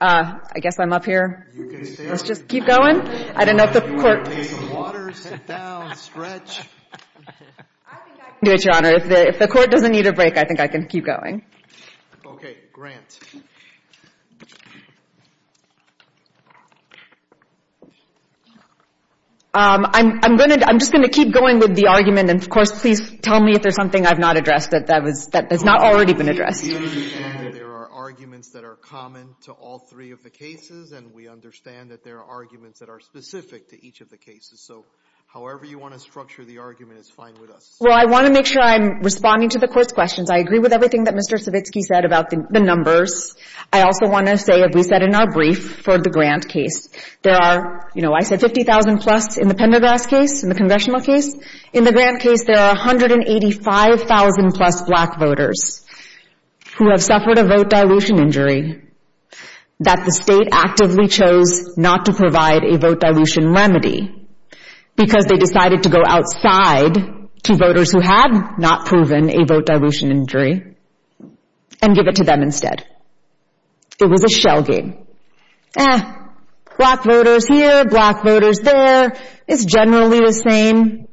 I guess I'm up here. Let's just keep going. I don't know if the court. You want to go get some water, sit down, stretch? I think I can do it, Your Honor. If the court doesn't need a break, I think I can keep going. OK, Grant. I'm going to, I'm just going to keep going with the argument. And of course, please tell me if there's something I've not addressed that has not already been addressed. There are arguments that are common to all three of the cases, and we understand that there are arguments that are specific to each of the cases. So however you want to structure the argument is fine with us. Well, I want to make sure I'm responding to the court's questions. I agree with everything that Mr. Savitsky said about the numbers. I also want to say, as we said in our brief, for the Grant case, there are, you know, I said 50,000 plus in the Pendergrass case, in the congressional case. In the Grant case, there are 185,000 plus black voters who have suffered a vote dilution injury that the state actively chose not to provide a vote dilution remedy, because they decided to go outside to voters who had not proven a vote dilution injury and give it to them instead. It was a shell game. Black voters here, black voters there. It's generally the same.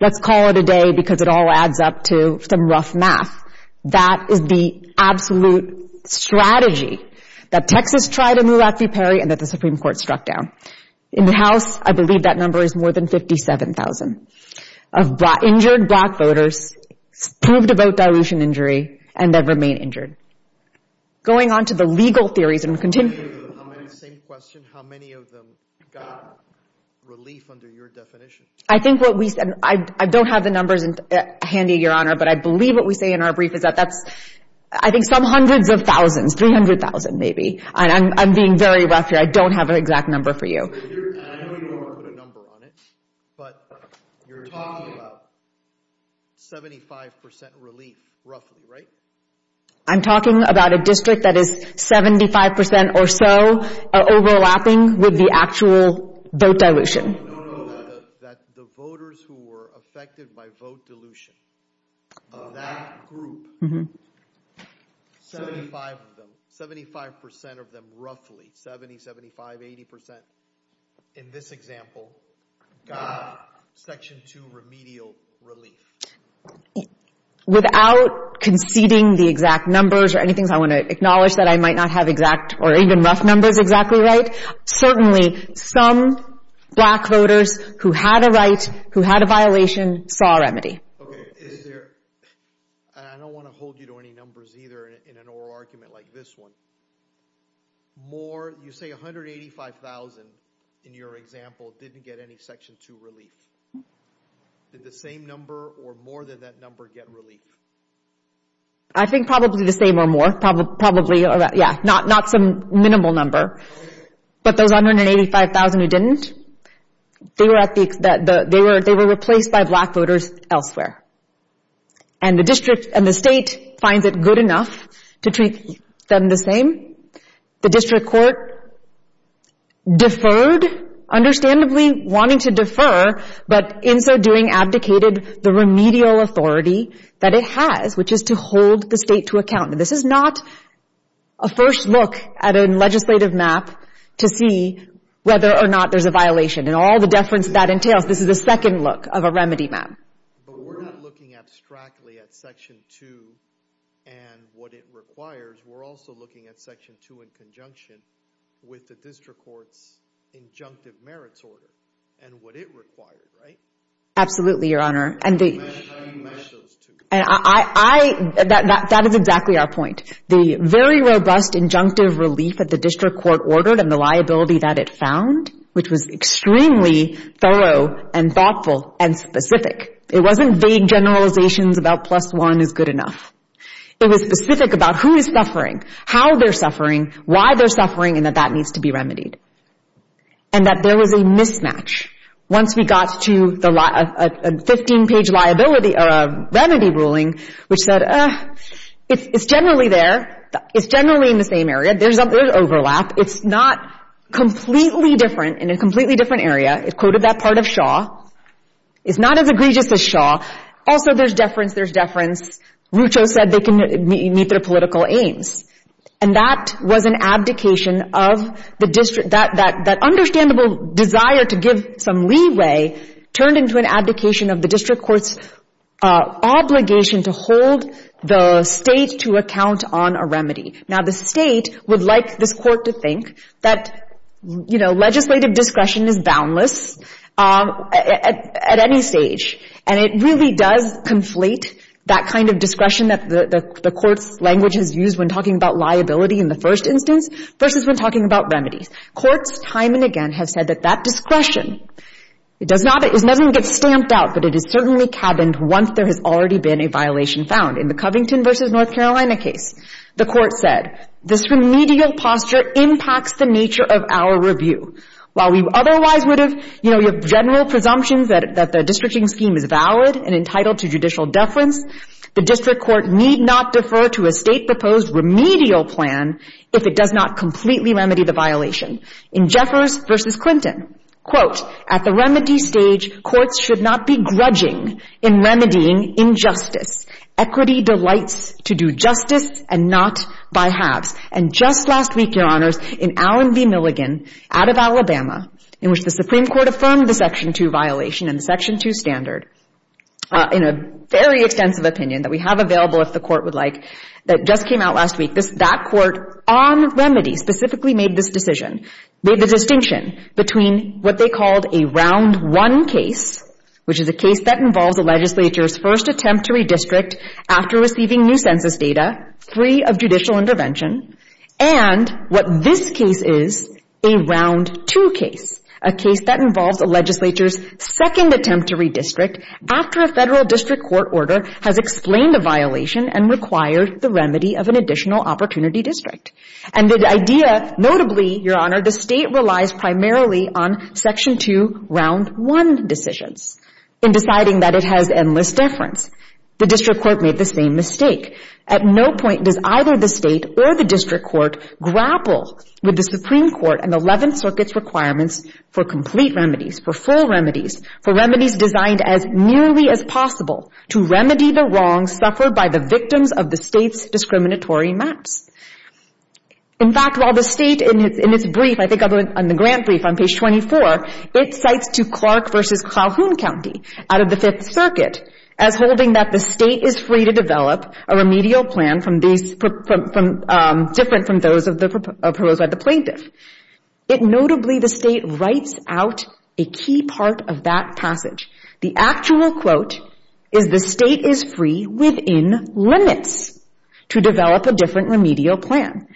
Let's call it a day, because it all adds up to some rough math. That is the absolute strategy that Texas tried in Lula v. Perry and that the Supreme Court struck down. In the House, I believe that number is more than 57,000 of injured black voters proved a vote dilution injury and that remain injured. Going on to the legal theories, and we'll continue. Same question. How many of them got relief under your definition? I think what we said, I don't have the numbers handy, Your Honor, but I believe what we say in our brief is that that's, I think, some hundreds of thousands, 300,000 maybe. I'm being very rough here. I don't have an exact number for you. And I know you don't want to put a number on it, but you're talking about 75% relief, roughly, right? I'm talking about a district that is 75% or so overlapping with the actual vote dilution. That the voters who were affected by vote dilution of that group, 75% of them, roughly, 70%, 75%, 80% in this example, got Section 2 remedial relief. Without conceding the exact numbers or anything, I want to acknowledge that I might not have exact or even rough numbers exactly right. Certainly, some black voters who had a right, who had a violation, saw a remedy. OK. Is there, and I don't want to hold you to any numbers either in an oral argument like this one. More, you say 185,000 in your example didn't get any Section 2 relief. Did the same number or more than that number get relief? I think probably the same or more, probably. Yeah, not some minimal number. But those 185,000 who didn't, they were replaced by black voters elsewhere. And the district and the state finds it good enough to treat them the same. The district court deferred, understandably wanting to defer, but in so doing, abdicated the remedial authority that it has, which is to hold the state to account. This is not a first look at a legislative map to see whether or not there's a violation. In all the deference that entails, this is the second look of a remedy map. But we're not looking abstractly at Section 2 and what it requires. We're also looking at Section 2 in conjunction with the district court's injunctive merits order and what it required, right? Absolutely, Your Honor. And that is exactly our point. The very robust injunctive relief that the district court ordered and the liability that it found, which was extremely thorough and thoughtful and specific. It wasn't vague generalizations about plus one is good enough. It was specific about who is suffering, how they're suffering, why they're suffering, and that that needs to be remedied. And that there was a mismatch once we got to a 15-page remedy ruling, which said, it's generally there. It's generally in the same area. There's overlap. It's not completely different in a completely different area. It quoted that part of Shaw. It's not as egregious as Shaw. Also, there's deference. There's deference. Rucho said they can meet their political aims. And that was an abdication of the district. That understandable desire to give some leeway turned into an abdication of the district court's obligation to hold the state to account on a remedy. Now, the state would like this court to think that legislative discretion is boundless at any stage. And it really does conflate that kind of discretion that the court's language is used when talking about liability in the first instance versus when talking about remedies. Courts, time and again, have said that that discretion, it doesn't get stamped out, but it is certainly cabined once there has already been a violation found. In the Covington versus North Carolina case, the court said, this remedial posture impacts the nature of our review. While we otherwise would have, you that the districting scheme is valid and entitled to judicial deference, the district court need not defer to a state-proposed remedial plan if it does not completely remedy the violation. In Jeffers versus Clinton, quote, at the remedy stage, courts should not be grudging in remedying injustice. Equity delights to do justice and not by halves. And just last week, Your Honors, in Allen v. Milligan, out of Alabama, in which the Supreme Court affirmed the Section 2 violation and the Section 2 standard in a very extensive opinion that we have available, if the court would like, that just came out last week. That court on remedy specifically made this decision, made the distinction between what they called a round one case, which is a case that involves the legislature's first attempt to redistrict after receiving new census data, free of judicial intervention, and what this case is, a round two case, a case that involves the legislature's second attempt to redistrict after a federal district court order has explained a violation and required the remedy of an additional opportunity district. And the idea, notably, Your Honor, the state relies primarily on Section 2 round one decisions in deciding that it has endless deference. The district court made the same mistake. At no point does either the state or the district court grapple with the Supreme Court and 11th Circuit's requirements for complete remedies, for full remedies, for remedies designed as nearly as possible to remedy the wrongs suffered by the victims of the state's discriminatory maps. In fact, while the state, in its brief, I think on the grant brief on page 24, it cites to Clark versus Calhoun County out of the Fifth Circuit as holding that the state is free to develop a remedial plan different from those of the proposed by the plaintiff. Notably, the state writes out a key part of that passage. The actual quote is the state is free within limits to develop a different remedial plan.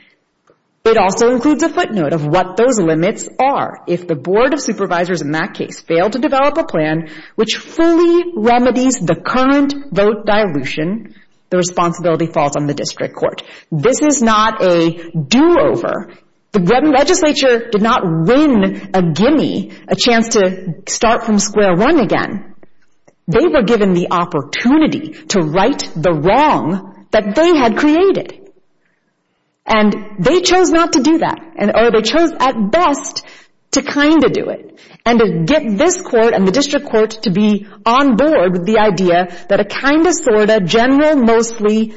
It also includes a footnote of what those limits are. If the board of supervisors in that case failed to develop a plan which fully remedies the current vote dilution, the responsibility falls on the district court. This is not a do-over. The legislature did not win a gimme, a chance to start from square one again. They were given the opportunity to right the wrong that they had created. And they chose not to do that, or they chose, at best, to kind of do it, and to get this court and the district court to be on board with the idea that a kind of, sort of, general, mostly,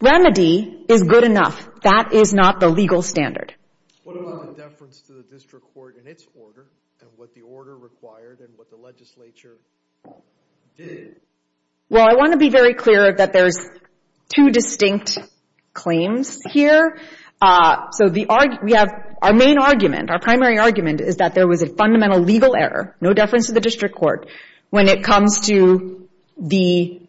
remedy is good enough. That is not the legal standard. What about the deference to the district court in its order, and what the order required, and what the legislature did? Well, I want to be very clear that there's two distinct claims here. So we have our main argument, our primary argument, is that there was a fundamental legal error, no deference to the district court, when it comes to the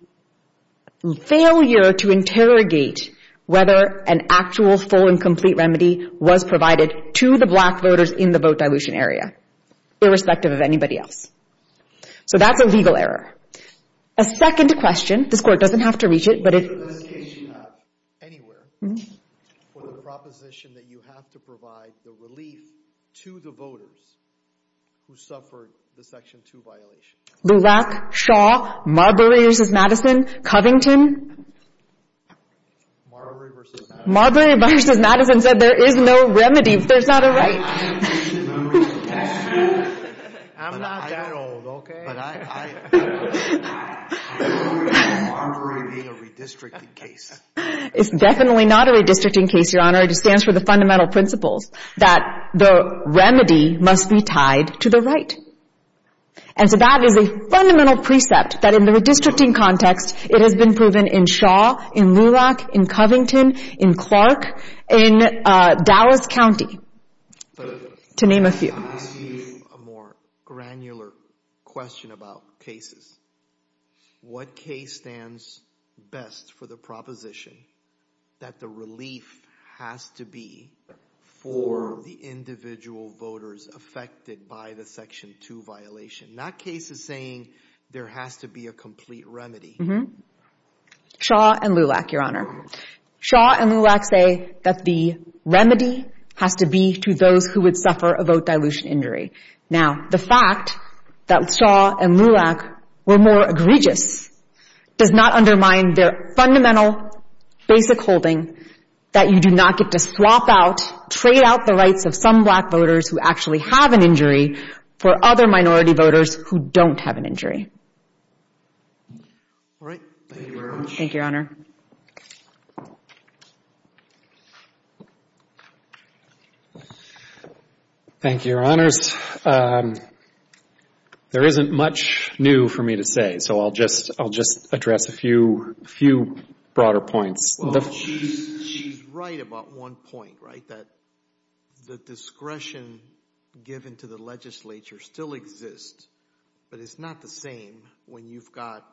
failure to interrogate whether an actual, full, and complete remedy was provided to the black voters in the vote dilution area, irrespective of anybody else. So that's a legal error. A second question, this court doesn't have to reach it, but if- What does the case you have, anywhere, for the proposition that you have to provide the relief to the voters who suffered the section two violation? Lulak, Shaw, Marbury v. Madison, Covington. Marbury v. Madison. Marbury v. Madison said there is no remedy if there's not a right. I'm not that old, okay? But I agree with Marbury being a redistricting case. It's definitely not a redistricting case, Your Honor, it just stands for the fundamental principles that the remedy must be tied to the right. And so that is a fundamental precept that in the redistricting context, it has been proven in Shaw, in Lulak, in Covington, in Clark, in Dallas County, to name a few. Let me ask you a more granular question about cases. What case stands best for the proposition that the relief has to be for the individual voters affected by the section two violation? That case is saying there has to be a complete remedy. Shaw and Lulak, Your Honor. Shaw and Lulak say that the remedy has to be to those who would suffer a vote dilution injury. Now, the fact that Shaw and Lulak were more egregious does not undermine their fundamental basic holding that you do not get to swap out, trade out the rights of some black voters who actually have an injury for other minority voters who don't have an injury. All right. Thank you very much. Thank you, Your Honor. Thank you, Your Honors. There isn't much new for me to say, so I'll just address a few broader points. Well, she's right about one point, right, that the discretion given to the legislature still exists, but it's not the same when you've got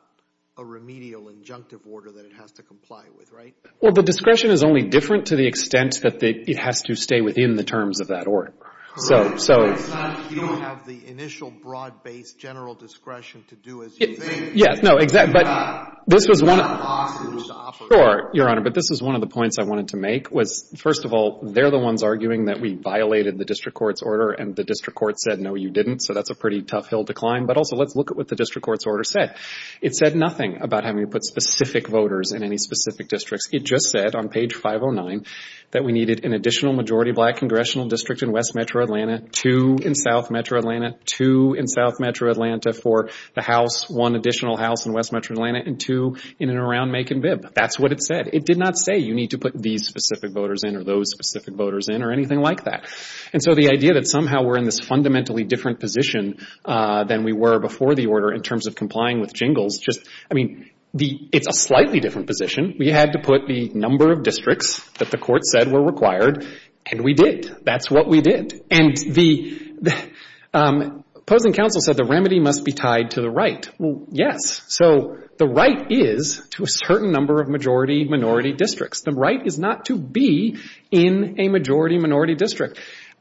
a remedial injunctive order that it has to comply with, right? Well, the discretion is only different to the extent that it has to stay within the terms of that order. So, so... It's not that you don't have the initial broad-based general discretion to do as you think. Yes, no, exactly. But this was one of the... It's not possible to offer that. Sure, Your Honor, but this is one of the points I wanted to make was, first of all, they're the ones arguing that we violated the district court's order, and the district court said, no, you didn't. So that's a pretty tough hill to climb. But also, let's look at what the district court's order said. It said nothing about having to put specific voters in any specific districts. It just said on page 509 that we needed an additional majority black congressional district in West Metro Atlanta, two in South Metro Atlanta, two in South Metro Atlanta for the House, one additional House in West Metro Atlanta, and two in and around Macon-Vibb. That's what it said. It did not say you need to put these specific voters in or those specific voters in or anything like that. And so the idea that somehow we're in this fundamentally different position than we were before the order in terms of complying with Jingles, just, I mean, it's a slightly different position. We had to put the number of districts that the court said were required, and we did. That's what we did. And the opposing counsel said the remedy must be tied to the right. Well, yes. So the right is to a certain number of majority-minority districts. The right is not to be in a majority-minority district.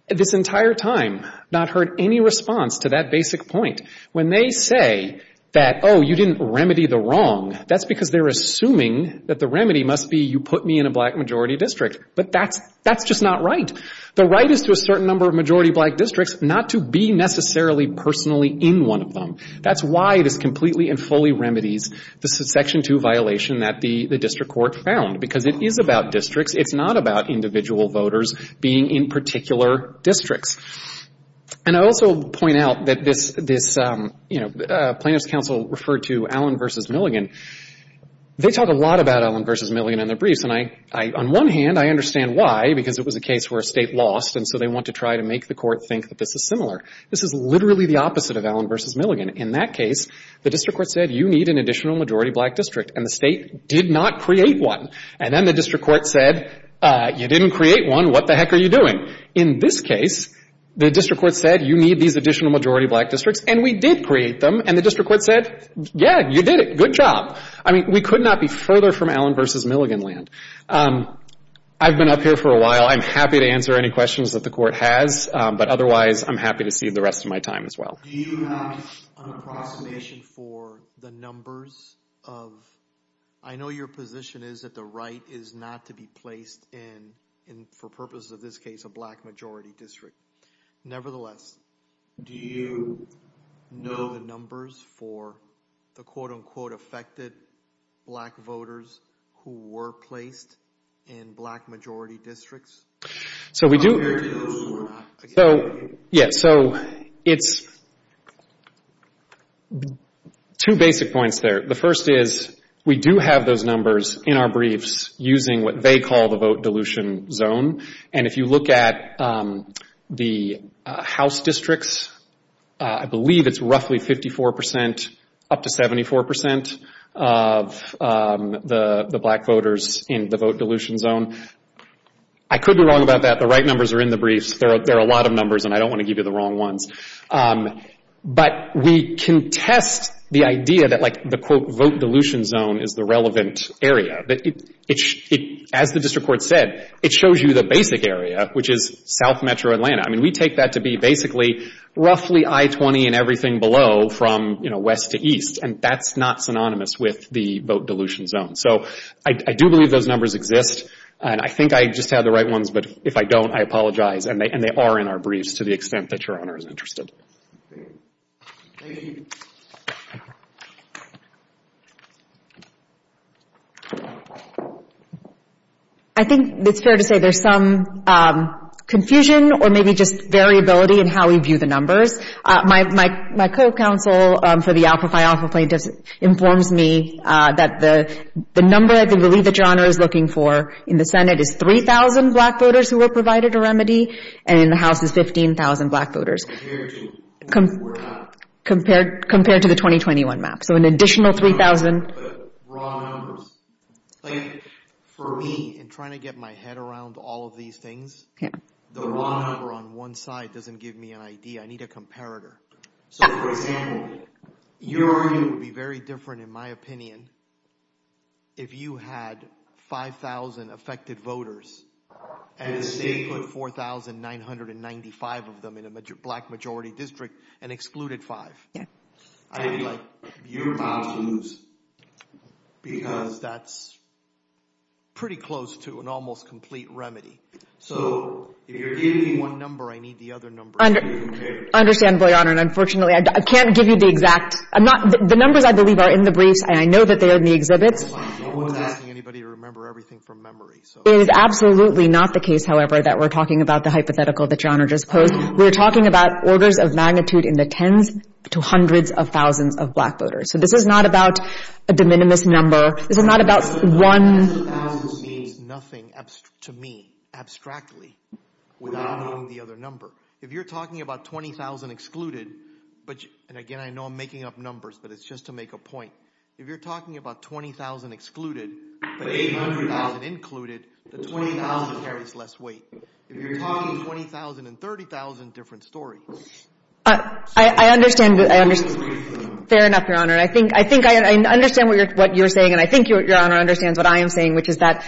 This entire time, not heard any response to that basic point. When they say that, oh, you didn't remedy the wrong, that's because they're assuming that the remedy must be you put me in a black-majority district, but that's just not right. The right is to a certain number of majority-black districts, not to be necessarily personally in one of them. That's why this completely and fully remedies the Section 2 violation that the district court found, because it is about districts. It's not about individual voters being in particular districts. And I also point out that this plaintiff's counsel referred to Allen v. Milligan. They talk a lot about Allen v. Milligan in their briefs, and on one hand, I understand why, because it was a case where a state lost, and so they want to try to make the court think that this is similar. This is literally the opposite of Allen v. Milligan. In that case, the district court said, you need an additional majority-black district, and the state did not create one. And then the district court said, you didn't create one, what the heck are you doing? In this case, the district court said, you need these additional majority-black districts, and we did create them, and the district court said, yeah, you did it, good job. I mean, we could not be further from Allen v. Milligan land. I've been up here for a while. I'm happy to answer any questions that the court has, but otherwise, I'm happy to see the rest of my time as well. Do you have an approximation for the numbers of, I know your position is that the right is not to be placed in, for purposes of this case, a black-majority district. Nevertheless, do you know the numbers for the quote-unquote affected black voters who were placed in black-majority districts? So we do. Black-majority voters who were not. Yeah, so it's two basic points there. The first is, we do have those numbers in our briefs using what they call the vote dilution zone, and if you look at the House districts, I believe it's roughly 54%, up to 74% of the black voters in the vote dilution zone. I could be wrong about that. The right numbers are in the briefs. There are a lot of numbers, and I don't want to give you the wrong ones. But we can test the idea that the quote-quote vote dilution zone is the relevant area. As the district court said, it shows you the basic area, which is South Metro Atlanta. I mean, we take that to be basically roughly I-20 and everything below, from west to east, and that's not synonymous with the vote dilution zone. So I do believe those numbers exist, and I think I just have the right ones, but if I don't, I apologize, and they are in our briefs, to the extent that Your Honor is interested. I think it's fair to say there's some confusion, or maybe just variability in how we view the numbers. My co-counsel for the Alpha Phi Alpha plaintiffs informs me that the number, I believe, that Your Honor is looking for in the Senate is 3,000 black voters who were provided a remedy, and in the House is 15,000 black voters. Compared to the 2021 map. So an additional 3,000. For me, in trying to get my head around all of these things, the wrong number on one side doesn't give me an idea. I need a comparator. So for example, your argument would be very different, in my opinion, if you had 5,000 affected voters, and the state put 4,995 of them in a black majority district, and excluded five. I'd be like, your mom's loose, because that's pretty close to an almost complete remedy. So if you're giving me one number, I need the other number to compare. I understand, Your Honor, and unfortunately, I can't give you the exact, the numbers, I believe, are in the briefs, and I know that they're in the exhibits. I wasn't asking anybody to remember everything from memory. It is absolutely not the case, however, that we're talking about the hypothetical that Your Honor just posed. We're talking about orders of magnitude in the tens to hundreds of thousands of black voters. So this is not about a de minimis number. This is not about one. Hundreds of thousands means nothing to me, abstractly, without knowing the other number. If you're talking about 20,000 excluded, but, and again, I know I'm making up numbers, but it's just to make a point. If you're talking about 20,000 excluded, but 800,000 included, the 20,000 carries less weight. If you're talking 20,000 and 30,000, different story. I understand, I understand. Fair enough, Your Honor. I think I understand what you're saying, and I think Your Honor understands what I am saying, which is that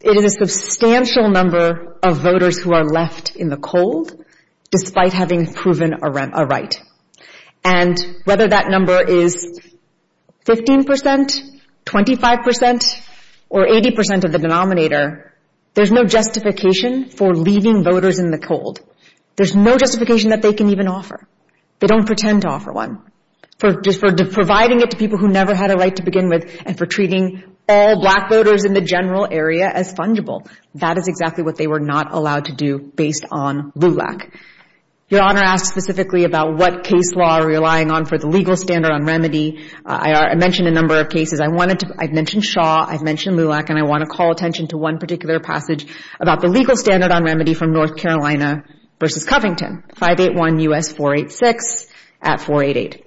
it is a substantial number of voters who are left in the cold, despite having proven a right. And whether that number is 15%, 25%, or 80% of the denominator, there's no justification for leaving voters in the cold. There's no justification that they can even offer. They don't pretend to offer one. For providing it to people who never had a right to begin with, and for treating all black voters in the general area as fungible, that is exactly what they were not allowed to do based on LULAC. Your Honor asked specifically about what case law are we relying on for the legal standard on remedy. I mentioned a number of cases. I've mentioned Shaw, I've mentioned LULAC, and I want to call attention to one particular passage about the legal standard on remedy from North Carolina versus Covington. 581 U.S. 486 at 488.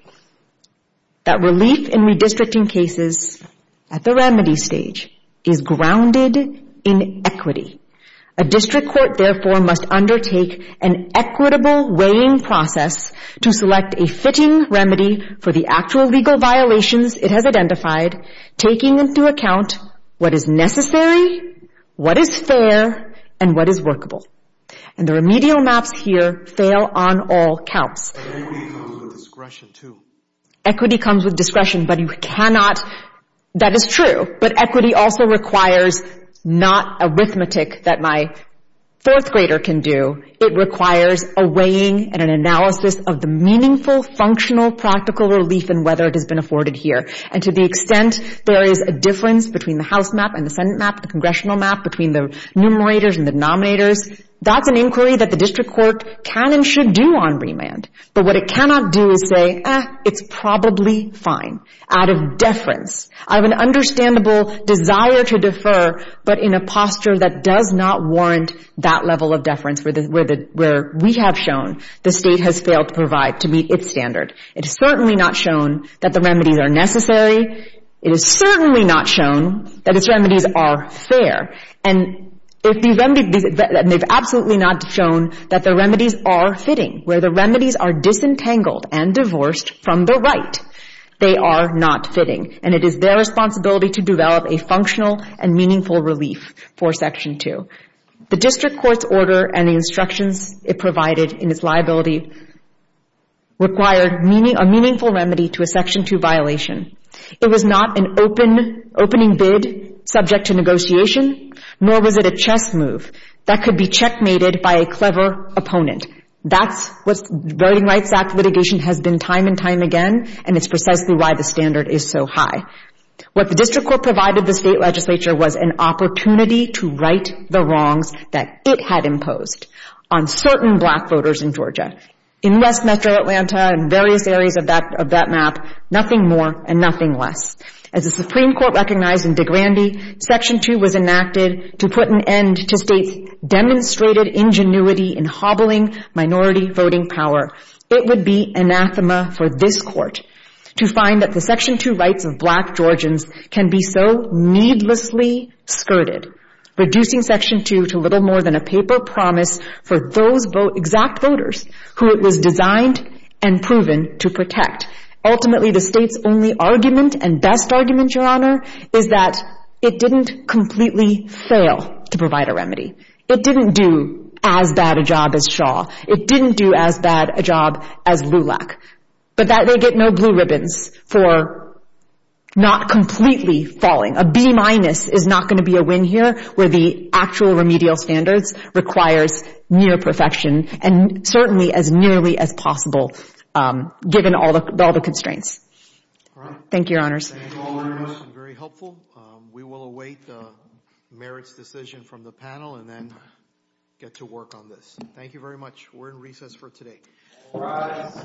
That relief in redistricting cases at the remedy stage is grounded in equity. A district court, therefore, must undertake an equitable weighing process to select a fitting remedy for the actual legal violations it has identified, taking into account what is necessary, what is fair, and what is workable. And the remedial maps here fail on all counts. Equity comes with discretion, too. Equity comes with discretion, but you cannot, that is true, but equity also requires not arithmetic that my fourth grader can do. It requires a weighing and an analysis of the meaningful, functional, practical relief and whether it has been afforded here. And to the extent there is a difference between the House map and the Senate map, the Congressional map, between the numerators and the denominators, that's an inquiry that the district court can and should do on remand. But what it cannot do is say, eh, it's probably fine out of deference. I have an understandable desire to defer, but in a posture that does not warrant that level of deference where we have shown the state has failed to provide to meet its standard. It has certainly not shown that the remedies are necessary. It has certainly not shown that its remedies are fair. And they've absolutely not shown that the remedies are fitting, where the remedies are disentangled and divorced from the right. They are not fitting. And it is their responsibility to develop a functional and meaningful relief for Section 2. The district court's order and the instructions it provided in its liability required a meaningful remedy to a Section 2 violation. It was not an opening bid subject to negotiation, nor was it a chess move that could be checkmated by a clever opponent. That's what Voting Rights Act litigation has been time and time again, and it's precisely why the standard is so high. What the district court provided the state legislature was an opportunity to right the wrongs that it had imposed on certain black voters in Georgia. In West Metro Atlanta and various areas of that map, nothing more and nothing less. As the Supreme Court recognized in DeGrande, Section 2 was enacted to put an end to states' demonstrated ingenuity in hobbling minority voting power. It would be anathema for this court to find that the Section 2 rights of black Georgians can be so needlessly skirted, reducing Section 2 to little more than a paper promise for those exact voters who it was designed and proven to protect. Ultimately, the state's only argument and best argument, Your Honor, is that it didn't completely fail to provide a remedy. It didn't do as bad a job as Shaw. It didn't do as bad a job as Lulac. But that they get no blue ribbons for not completely falling. A B-minus is not gonna be a win here where the actual remedial standards requires near perfection and certainly as nearly as possible given all the constraints. Thank you, Your Honors. Thank you, Your Honors. Very helpful. We will await the merits decision from the panel and then get to work on this. Thank you very much. We're in recess for today. Rise.